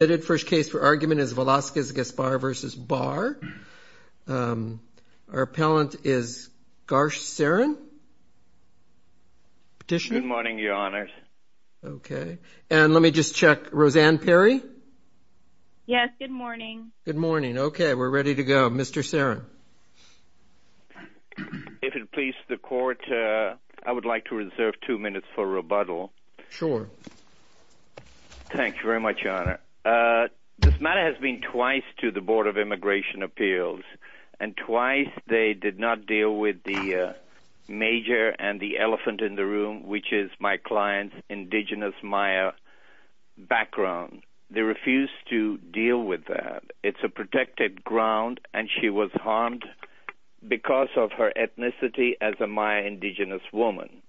The first case for argument is Velasquez-Gaspar v. Barr. Our appellant is Garsh Saran. Petitioner? Good morning, Your Honors. Okay. And let me just check, Roseanne Perry? Yes, good morning. Good morning. Okay, we're ready to go. Mr. Saran. If it pleases the Court, I would like to reserve two minutes for rebuttal. Sure. Thank you very much, Your Honor. This matter has been twice to the Board of Immigration Appeals, and twice they did not deal with the major and the elephant in the room, which is my client's indigenous Maya background. They refused to deal with that. It's a protected ground, and she was harmed because of her ethnicity as a Maya indigenous woman.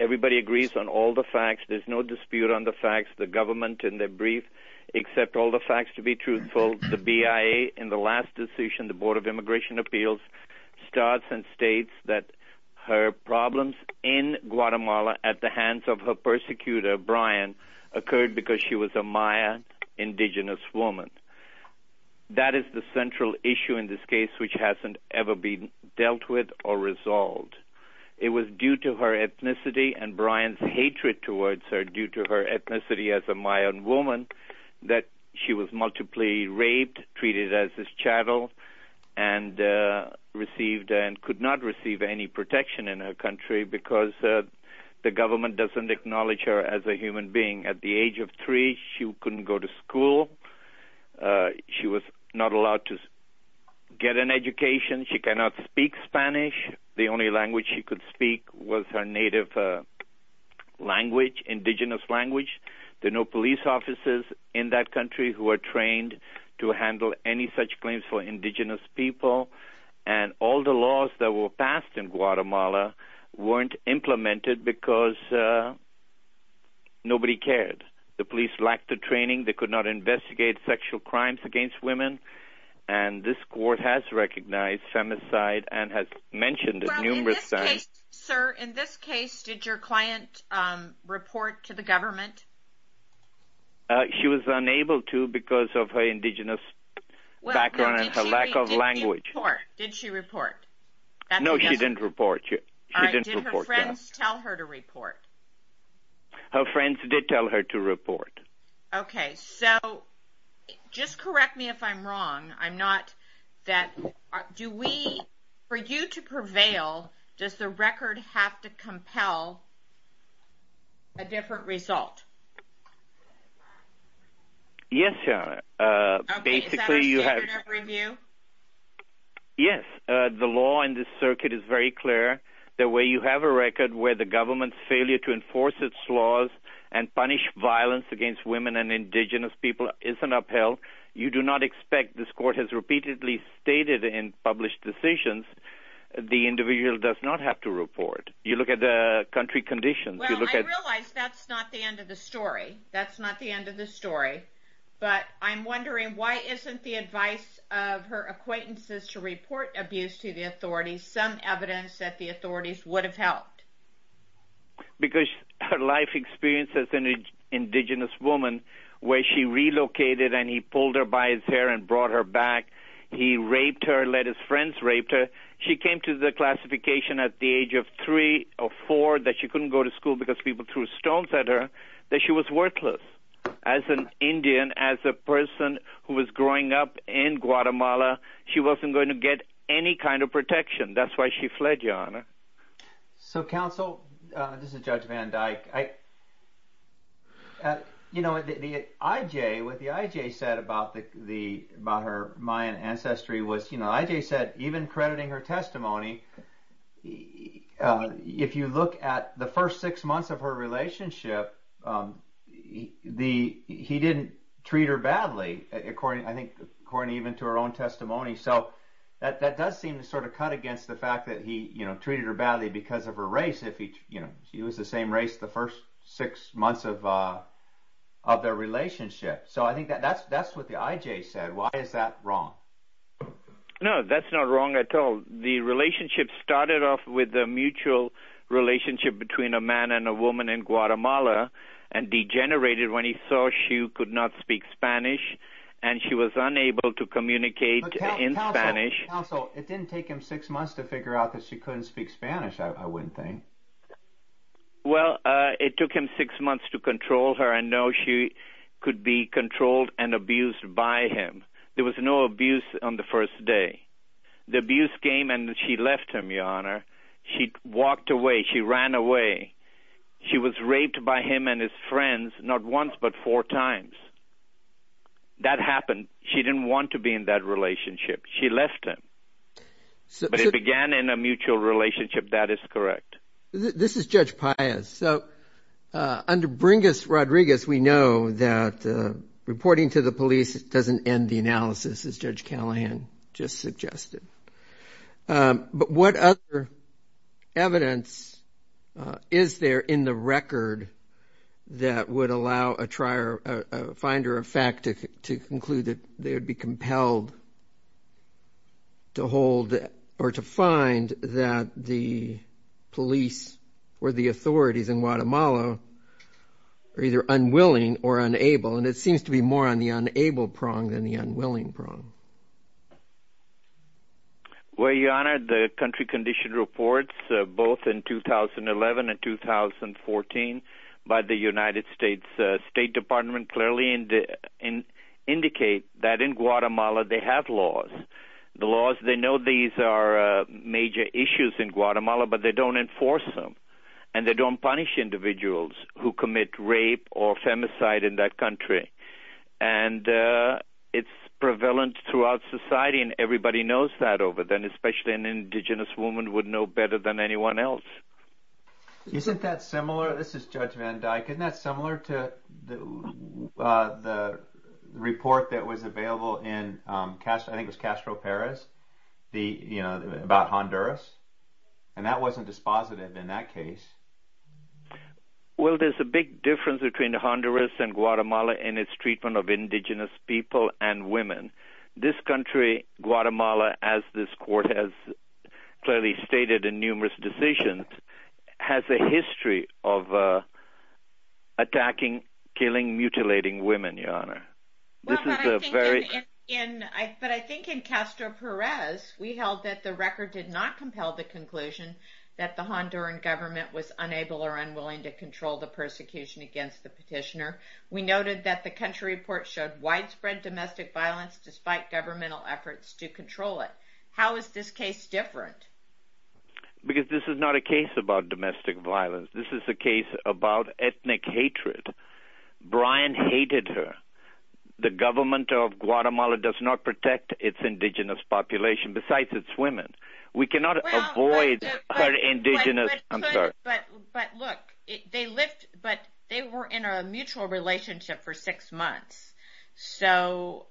Everybody agrees on all the facts. There's no dispute on the facts. The government, in their brief, accept all the facts to be truthful. The BIA, in the last decision, the Board of Immigration Appeals, starts and states that her problems in Guatemala at the hands of her persecutor, Brian, occurred because she was a Maya indigenous woman. That is the central issue in this case which hasn't ever been dealt with or resolved. It was due to her ethnicity and Brian's hatred towards her due to her ethnicity as a Mayan woman that she was multiply raped, treated as his chattel, and received and could not receive any protection in her country because the government doesn't acknowledge her as a human being. At the age of three, she couldn't go to school. She was not allowed to get an education. She cannot speak Spanish. The only language she could speak was her native language, indigenous language. There are no police officers in that country who are trained to handle any such claims for indigenous people. All the laws that were passed in Guatemala weren't implemented because nobody cared. The police lacked the training. They could not investigate sexual crimes against women. This court has recognized femicide and has mentioned it numerous times. In this case, sir, in this case, did your client report to the government? She was unable to because of her indigenous background and her lack of language. Did she report? No, she didn't report. Did her friends tell her to report? Her friends did tell her to report. Okay, so just correct me if I'm wrong. For you to prevail, does the record have to compel a different result? Yes, Your Honor. Okay, is that a standard of review? Yes, the law in this circuit is very clear. The way you have a record where the government's failure to enforce its laws and punish violence against women and indigenous people isn't upheld. You do not expect this court has repeatedly stated in published decisions the individual does not have to report. You look at the country conditions. Well, I realize that's not the end of the story. That's not the end of the story. But I'm wondering why isn't the advice of her acquaintances to report abuse to the authorities some evidence that the authorities would have helped? Because her life experience as an indigenous woman where she relocated and he pulled her by his hair and brought her back. He raped her, let his friends rape her. She came to the classification at the age of three or four that she couldn't go to school because people threw stones at her, that she was worthless. As an Indian, as a person who was growing up in Guatemala, she wasn't going to get any kind of protection. That's why she fled, Your Honor. Counsel, this is Judge Van Dyke. What the IJ said about her Mayan ancestry was, IJ said even crediting her testimony, if you look at the first six months of her relationship, he didn't treat her badly according even to her own testimony. That does seem to cut against the fact that he treated her badly because of her race. She was the same race the first six months of their relationship. I think that's what the IJ said. Why is that wrong? No, that's not wrong at all. The relationship started off with a mutual relationship between a man and a woman in Guatemala and degenerated when he saw she could not speak Spanish and she was unable to communicate in Spanish. Counsel, it didn't take him six months to figure out that she couldn't speak Spanish, I would think. Well, it took him six months to control her and know she could be controlled and abused by him. There was no abuse on the first day. The abuse came and she left him, Your Honor. She walked away. She ran away. She was raped by him and his friends not once but four times. That happened. She didn't want to be in that relationship. She left him. But it began in a mutual relationship. That is correct. This is Judge Paez. Under Bringus Rodriguez, we know that reporting to the police doesn't end the analysis, as Judge Callahan just suggested. But what other evidence is there in the record that would allow a finder of fact to conclude that they would be compelled to hold or to find that the police or the authorities in Guatemala are either unwilling or unable? And it seems to be more on the unable prong than the unwilling prong. Well, Your Honor, the country condition reports both in 2011 and 2014 by the United States State Department clearly indicate that in Guatemala they have laws. The laws, they know these are major issues in Guatemala, but they don't enforce them. And they don't punish individuals who commit rape or femicide in that country. And it's prevalent throughout society, and everybody knows that over there, and especially an indigenous woman would know better than anyone else. Isn't that similar? This is Judge Van Dyck. Isn't that similar to the report that was available in Castro Perez about Honduras? And that wasn't dispositive in that case. Well, there's a big difference between Honduras and Guatemala in its treatment of indigenous people and women. This country, Guatemala, as this court has clearly stated in numerous decisions, has a history of attacking, killing, mutilating women, Your Honor. Well, but I think in Castro Perez we held that the record did not compel the conclusion that the Honduran government was unable or unwilling to control the persecution against the petitioner. We noted that the country report showed widespread domestic violence despite governmental efforts to control it. How is this case different? Because this is not a case about domestic violence. This is a case about ethnic hatred. Brian hated her. The government of Guatemala does not protect its indigenous population, besides its women. We cannot avoid her indigenous... I'm sorry. But look, they were in a mutual relationship for six months. So,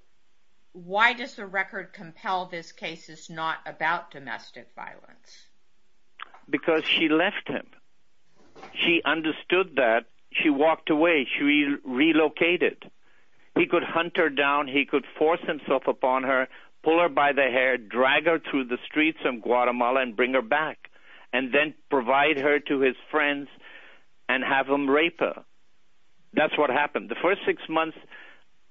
why does the record compel this case is not about domestic violence? Because she left him. She understood that. She walked away. She relocated. He could hunt her down. He could force himself upon her, pull her by the hair, drag her through the streets of Guatemala and bring her back and then provide her to his friends and have them rape her. That's what happened. The first six months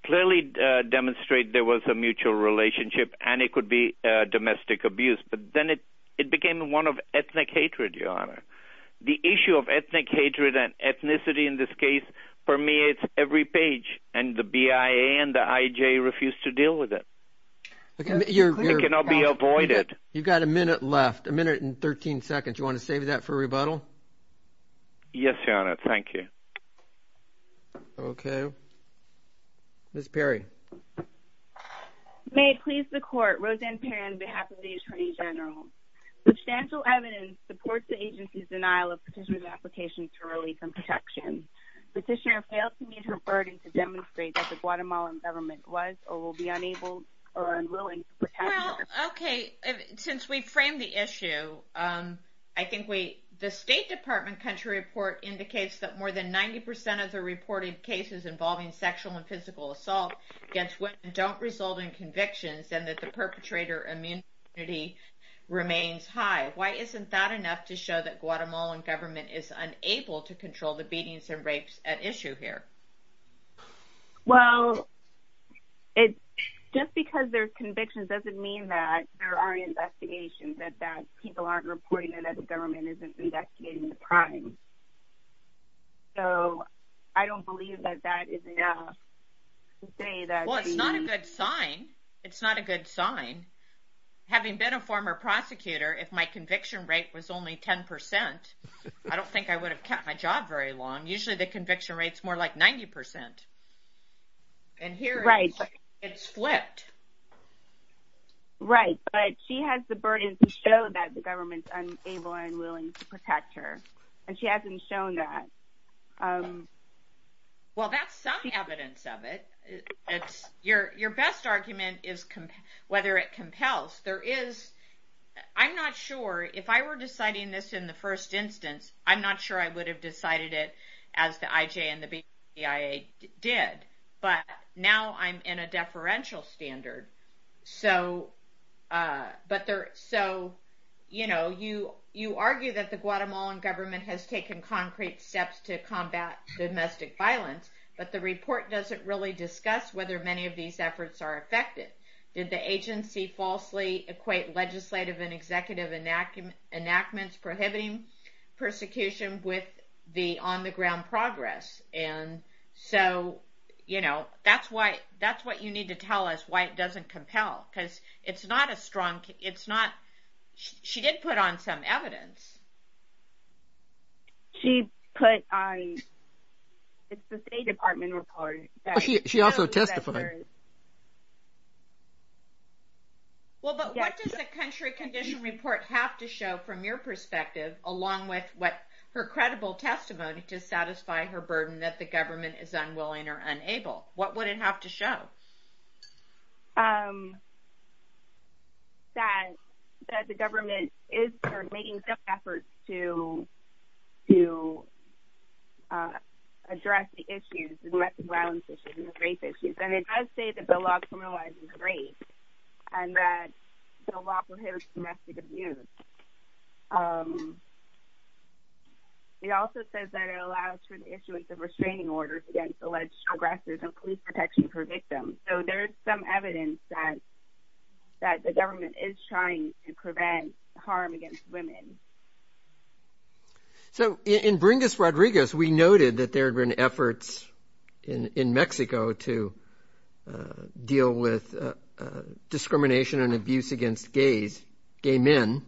clearly demonstrate there was a mutual relationship and it could be domestic abuse. But then it became one of ethnic hatred, Your Honor. The issue of ethnic hatred and ethnicity in this case permeates every page and the BIA and the IJ refuse to deal with it. It clearly cannot be avoided. You've got a minute left. A minute and 13 seconds. Do you want to save that for rebuttal? Yes, Your Honor. Thank you. Okay. Ms. Perry. May it please the court, Roseanne Perry on behalf of the Attorney General. Substantial evidence supports the agency's denial of petitioner's application to release and protection. Petitioner failed to meet her burden to demonstrate that the Guatemalan government was or will be unable or unwilling to protect her. Well, okay. Since we've framed the issue, I think the State Department country report indicates that more than 90% of the reported cases involving sexual and physical assault against women don't result in convictions and that the perpetrator immunity remains high. Why isn't that enough to show that Guatemalan government is unable to control the beatings and rapes at issue here? Well, just because there's convictions doesn't mean that there are investigations and that people aren't reporting that the government isn't investigating the crime. So I don't believe that that is enough to say that. Well, it's not a good sign. It's not a good sign. Having been a former prosecutor, if my conviction rate was only 10%, I don't think I would have kept my job very long. Usually the conviction rate is more like 90%. And here it's flipped. Right. But she has the burden to show that the government is unable and unwilling to protect her, and she hasn't shown that. Well, that's some evidence of it. Your best argument is whether it compels. I'm not sure. If I were deciding this in the first instance, I'm not sure I would have decided it as the IJ and the BIA did. But now I'm in a deferential standard. You argue that the Guatemalan government has taken concrete steps to combat domestic violence, but the report doesn't really discuss whether many of these efforts are effective. Did the agency falsely equate legislative and executive enactments prohibiting persecution with the on-the-ground progress? And so that's what you need to tell us, why it doesn't compel, because it's not a strong case. She did put on some evidence. It's the State Department report. She also testified. Well, but what does the country condition report have to show from your perspective, along with her credible testimony to satisfy her burden that the government is unwilling or unable? What would it have to show? That the government is making efforts to address the issues, the domestic violence issues and the race issues. And it does say that the law criminalizes race and that the law prohibits domestic abuse. It also says that it allows for the issuance of restraining orders against alleged aggressors and police protection for victims. So there is some evidence that the government is trying to prevent harm against women. So in Bringus Rodriguez, we noted that there had been efforts in Mexico to deal with discrimination and abuse against gays, gay men.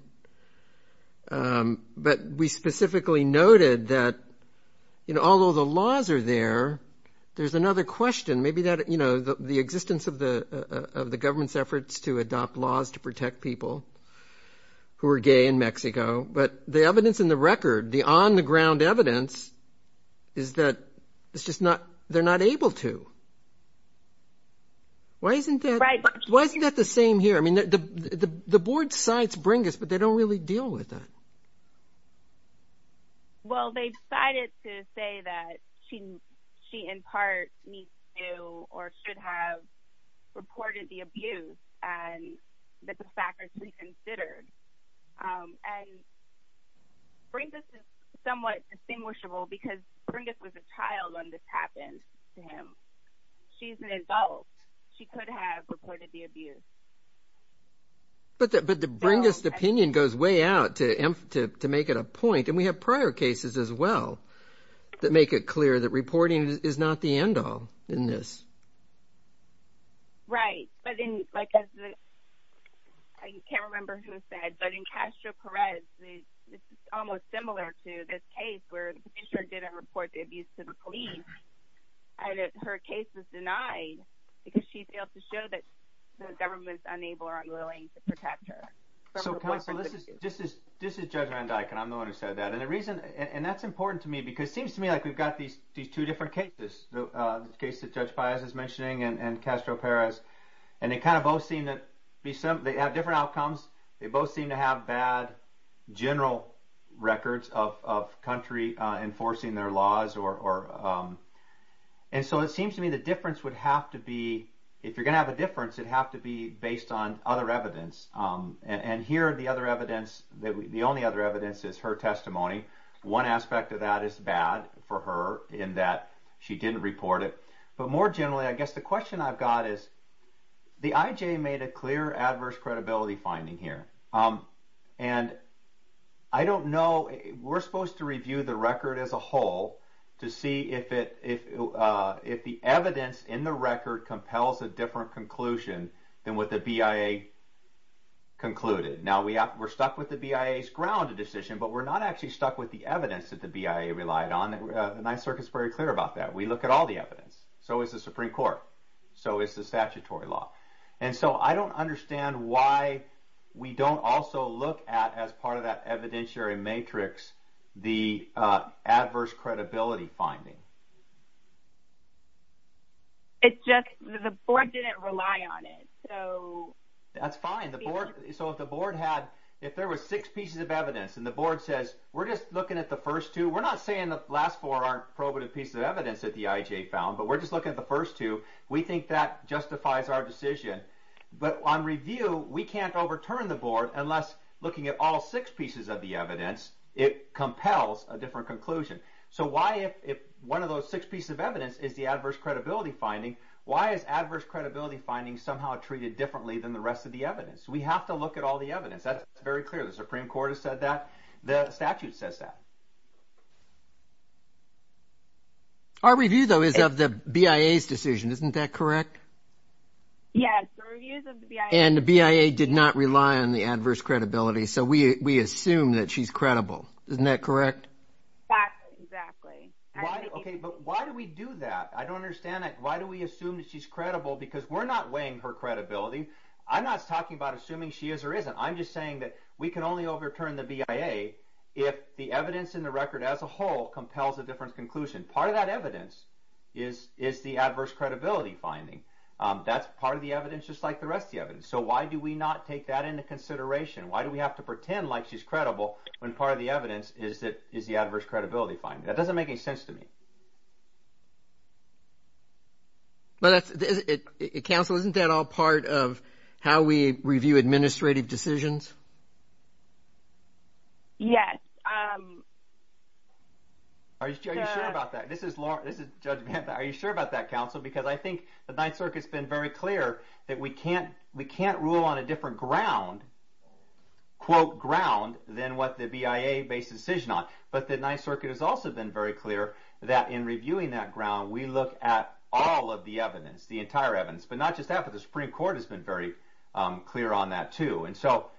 But we specifically noted that, you know, although the laws are there, there's another question. Maybe that, you know, the existence of the government's efforts to adopt laws to protect people who are gay in Mexico. But the evidence in the record, the on-the-ground evidence, is that they're not able to. Why isn't that the same here? I mean, the board cites Bringus, but they don't really deal with that. Well, they've cited to say that she in part needs to or should have reported the abuse and that the fact is reconsidered. And Bringus is somewhat distinguishable because Bringus was a child when this happened to him. She's an adult. She could have reported the abuse. But the Bringus opinion goes way out to make it a point. And we have prior cases as well that make it clear that reporting is not the end-all in this. Right. I can't remember who said, but in Castro Perez, it's almost similar to this case where the commissioner didn't report the abuse to the police, and her case was denied because she failed to show that the government's unable or unwilling to protect her. So this is Judge Randyke, and I'm the one who said that. And that's important to me because it seems to me like we've got these two different cases, the case that Judge Paez is mentioning and Castro Perez, and they kind of both seem to have different outcomes. They both seem to have bad general records of country enforcing their laws. And so it seems to me the difference would have to be, if you're going to have a difference, it'd have to be based on other evidence. And here the only other evidence is her testimony. One aspect of that is bad for her in that she didn't report it. But more generally, I guess the question I've got is, the IJ made a clear adverse credibility finding here. And I don't know, we're supposed to review the record as a whole to see if the evidence in the record compels a different conclusion than what the BIA concluded. Now, we're stuck with the BIA's grounded decision, but we're not actually stuck with the evidence that the BIA relied on. The Ninth Circuit is very clear about that. We look at all the evidence. So is the Supreme Court. So is the statutory law. And so I don't understand why we don't also look at, as part of that evidentiary matrix, the adverse credibility finding. It's just the board didn't rely on it. That's fine. So if the board had, if there was six pieces of evidence and the board says, we're just looking at the first two. We're not saying the last four aren't probative pieces of evidence that the IJ found, but we're just looking at the first two. We think that justifies our decision. But on review, we can't overturn the board unless looking at all six pieces of the evidence, it compels a different conclusion. So why if one of those six pieces of evidence is the adverse credibility finding, why is adverse credibility finding somehow treated differently than the rest of the evidence? We have to look at all the evidence. That's very clear. The Supreme Court has said that. The statute says that. Our review, though, is of the BIA's decision. Isn't that correct? Yes, the reviews of the BIA. And the BIA did not rely on the adverse credibility. So we assume that she's credible. Isn't that correct? That's exactly. Okay, but why do we do that? I don't understand that. Why do we assume that she's credible? Because we're not weighing her credibility. I'm not talking about assuming she is or isn't. I'm just saying that we can only overturn the BIA if the evidence in the record as a whole compels a different conclusion. Part of that evidence is the adverse credibility finding. That's part of the evidence just like the rest of the evidence. So why do we not take that into consideration? Why do we have to pretend like she's credible when part of the evidence is the adverse credibility finding? That doesn't make any sense to me. Counsel, isn't that all part of how we review administrative decisions? Yes. Are you sure about that? This is Judge Panther. Are you sure about that, Counsel? Because I think the Ninth Circuit's been very clear that we can't rule on a different ground, quote, ground, than what the BIA based decision on. But the Ninth Circuit has also been very clear that in reviewing that ground, we look at all of the evidence, the entire evidence, but not just that, but the Supreme Court has been very clear on that too. And so,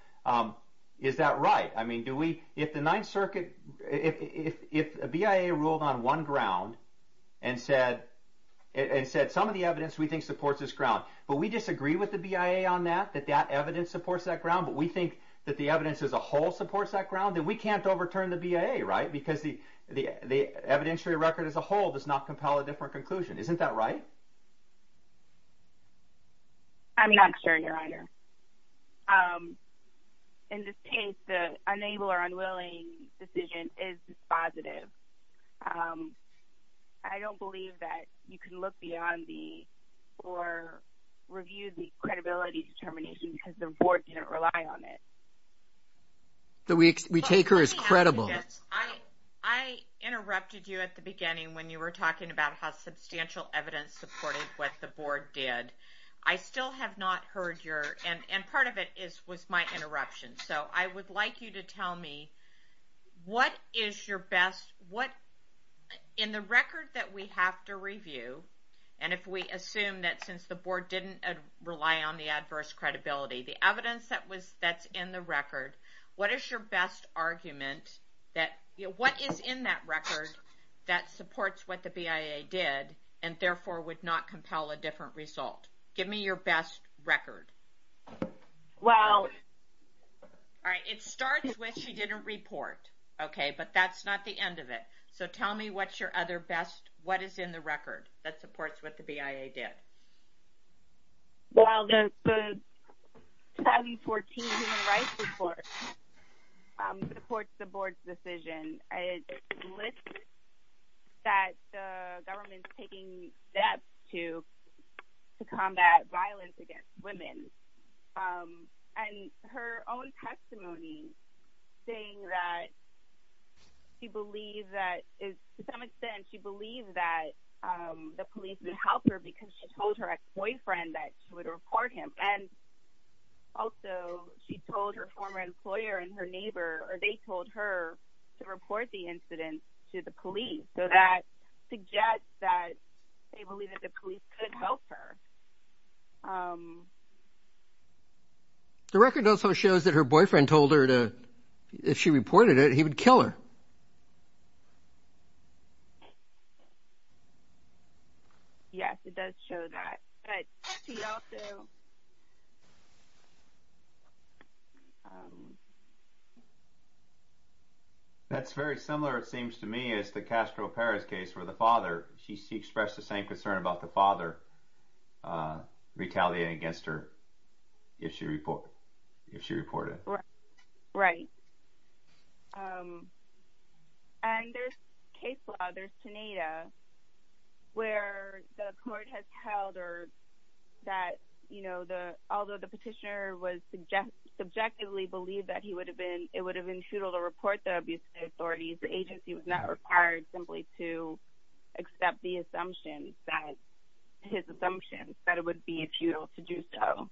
is that right? I mean, do we, if the Ninth Circuit, if the BIA ruled on one ground and said some of the evidence we think supports this ground, but we disagree with the BIA on that, that that evidence supports that ground, but we think that the evidence as a whole supports that ground, then we can't overturn the BIA, right? Because the evidentiary record as a whole does not compel a different conclusion. Isn't that right? I'm not sure, Your Honor. In this case, the unable or unwilling decision is positive. I don't believe that you can look beyond the, or review the credibility determination because the Board didn't rely on it. We take her as credible. I interrupted you at the beginning when you were talking about how substantial evidence supported what the Board did. I still have not heard your, and part of it was my interruption, so I would like you to tell me what is your best, what in the record that we have to review, and if we assume that since the Board didn't rely on the adverse credibility, the evidence that's in the record, what is your best argument that, what is in that record that supports what the BIA did and therefore would not compel a different result? Give me your best record. Well... All right, it starts with she didn't report, okay, but that's not the end of it. So tell me what's your other best, what is in the record that supports what the BIA did? Well, the 2014 Human Rights Report supports the Board's decision. It lists that the government's taking steps to combat violence against women, and her own testimony saying that she believes that, to some extent, she believes that the police would help her because she told her ex-boyfriend that she would report him, and also she told her former employer and her neighbor, or they told her to report the incident to the police, so that suggests that they believe that the police could help her. The record also shows that her boyfriend told her to, if she reported it, he would kill her. Yes, it does show that, but she also... That's very similar, it seems to me, as the Castro Perez case where the father, she expressed the same concern about the father retaliating against her if she reported it. Right. And there's case law, there's TANADA, where the court has held that although the petitioner was subjectively believed that it would have been futile to report the abuse to the authorities, the agency was not required simply to accept the assumption, his assumption, that it would be futile to do so.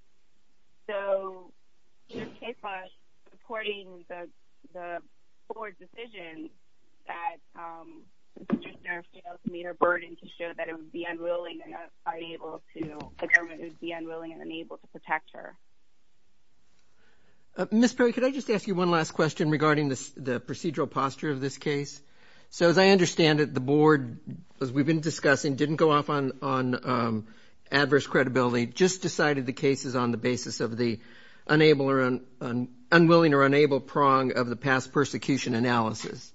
So there's case law supporting the court's decision that the petitioner failed to meet her burden to show that the government would be unwilling and unable to protect her. Ms. Perry, could I just ask you one last question regarding the procedural posture of this case? So as I understand it, the board, as we've been discussing, didn't go off on adverse credibility, just decided the case is on the basis of the unwilling or unable prong of the past persecution analysis.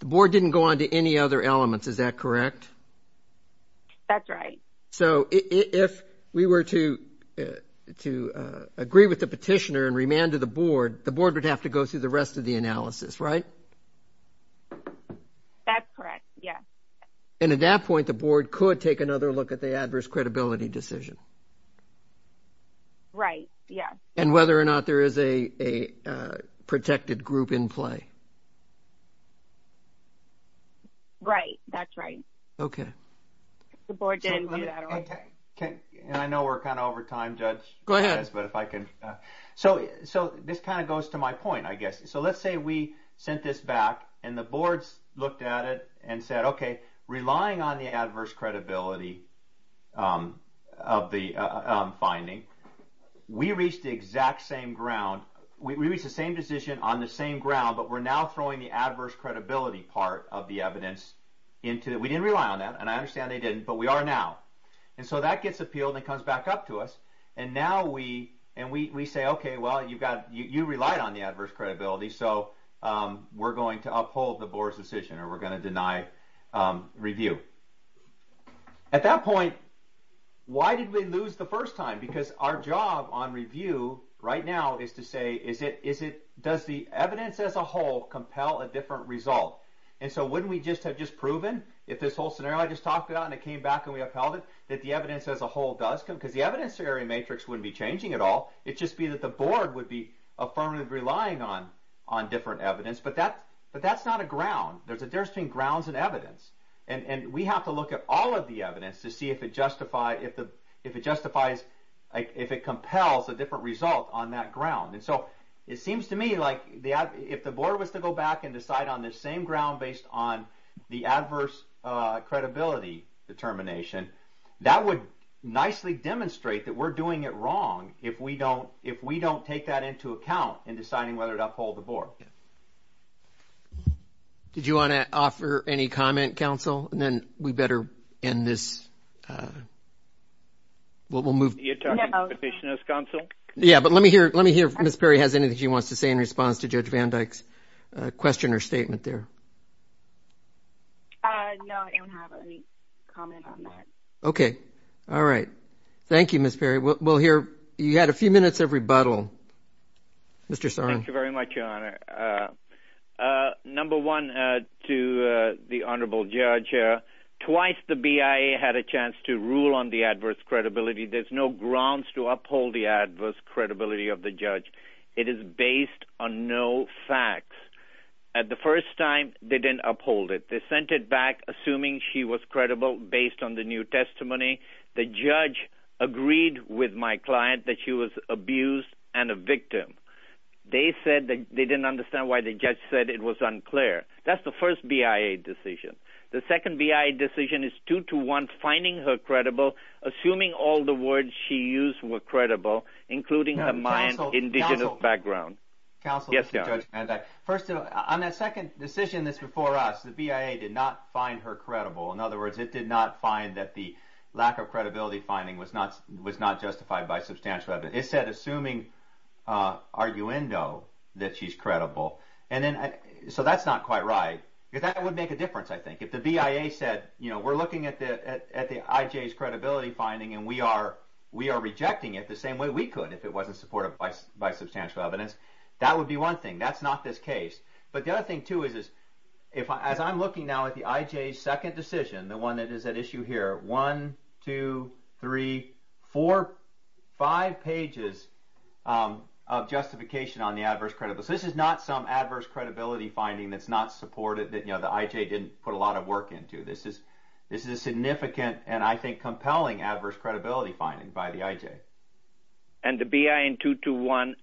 The board didn't go on to any other elements, is that correct? That's right. So if we were to agree with the petitioner and remand to the board, the board would have to go through the rest of the analysis, right? That's correct, yeah. And at that point, the board could take another look at the adverse credibility decision. Right, yeah. And whether or not there is a protected group in play. Right, that's right. Okay. The board didn't do that. And I know we're kind of over time, Judge. Go ahead. So this kind of goes to my point, I guess. So let's say we sent this back and the board looked at it and said, okay, relying on the adverse credibility of the finding, we reached the exact same ground. We reached the same decision on the same ground, but we're now throwing the adverse credibility part of the evidence into it. We didn't rely on that, and I understand they didn't, but we are now. And so that gets appealed and it comes back up to us. And now we say, okay, well, you relied on the adverse credibility, so we're going to uphold the board's decision or we're going to deny review. At that point, why did we lose the first time? Because our job on review right now is to say, does the evidence as a whole compel a different result? And so wouldn't we just have just proven, if this whole scenario I just talked about and it came back and we upheld it, that the evidence as a whole does come? Because the evidence scenario matrix wouldn't be changing at all. It'd just be that the board would be affirmatively relying on different evidence. But that's not a ground. There's a difference between grounds and evidence. And we have to look at all of the evidence to see if it justifies, if it compels a different result on that ground. And so it seems to me like if the board was to go back and decide on this same ground based on the adverse credibility determination, that would nicely demonstrate that we're doing it wrong if we don't take that into account in deciding whether to uphold the board. Did you want to offer any comment, counsel? And then we better end this. We'll move. You're talking to the petitioner's counsel? Yeah, but let me hear if Ms. Perry has anything she wants to say in response to Judge Van Dyke's question or statement there. No, I don't have any comment on that. Okay. All right. Thank you, Ms. Perry. We'll hear. You had a few minutes of rebuttal. Mr. Sarno. Thank you very much, Your Honor. Number one, to the Honorable Judge, twice the BIA had a chance to rule on the adverse credibility. There's no grounds to uphold the adverse credibility of the judge. It is based on no facts. At the first time, they didn't uphold it. They sent it back assuming she was credible based on the new testimony. The judge agreed with my client that she was abused and a victim. They said they didn't understand why the judge said it was unclear. That's the first BIA decision. The second BIA decision is two to one, finding her credible, assuming all the words she used were credible, including her Mayan indigenous background. Counsel, this is Judge Van Dyke. First, on that second decision that's before us, the BIA did not find her credible. In other words, it did not find that the lack of credibility finding was not justified by substantial evidence. It said assuming arguendo that she's credible. So that's not quite right. That would make a difference, I think. If the BIA said we're looking at the IJ's credibility finding and we are rejecting it the same way we could if it wasn't supported by substantial evidence, that would be one thing. That's not this case. But the other thing, too, is as I'm looking now at the IJ's second decision, the one that is at issue here, one, two, three, four, five pages of justification on the adverse credibility. This is not some adverse credibility finding that's not supported, that the IJ didn't put a lot of work into. This is a significant and, I think, compelling adverse credibility finding by the IJ. And the BIA in 221,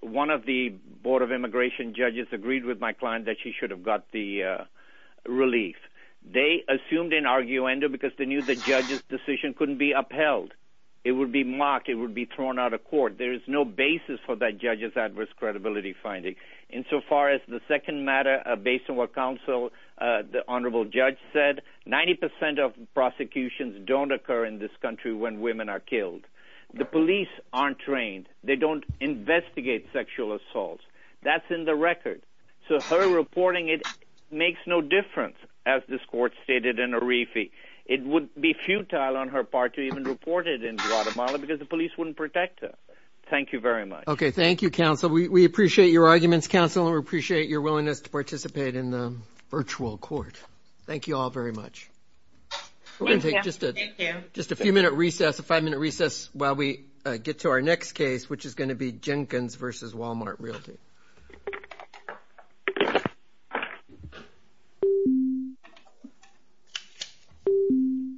one of the Board of Immigration judges agreed with my client that she should have got the relief. They assumed an arguendo because they knew the judge's decision couldn't be upheld. It would be mocked. It would be thrown out of court. There is no basis for that judge's adverse credibility finding. Insofar as the second matter, based on what counsel, the honorable judge, said, 90% of prosecutions don't occur in this country when women are killed. The police aren't trained. They don't investigate sexual assaults. That's in the record. So her reporting, it makes no difference, as this court stated in Arifi. It would be futile on her part to even report it in Guatemala because the police wouldn't protect her. Thank you very much. Okay, thank you, counsel. We appreciate your arguments, counsel, and we appreciate your willingness to participate in the virtual court. Thank you all very much. We're going to take just a few-minute recess, a five-minute recess, while we get to our next case, which is going to be Jenkins v. Walmart Realty.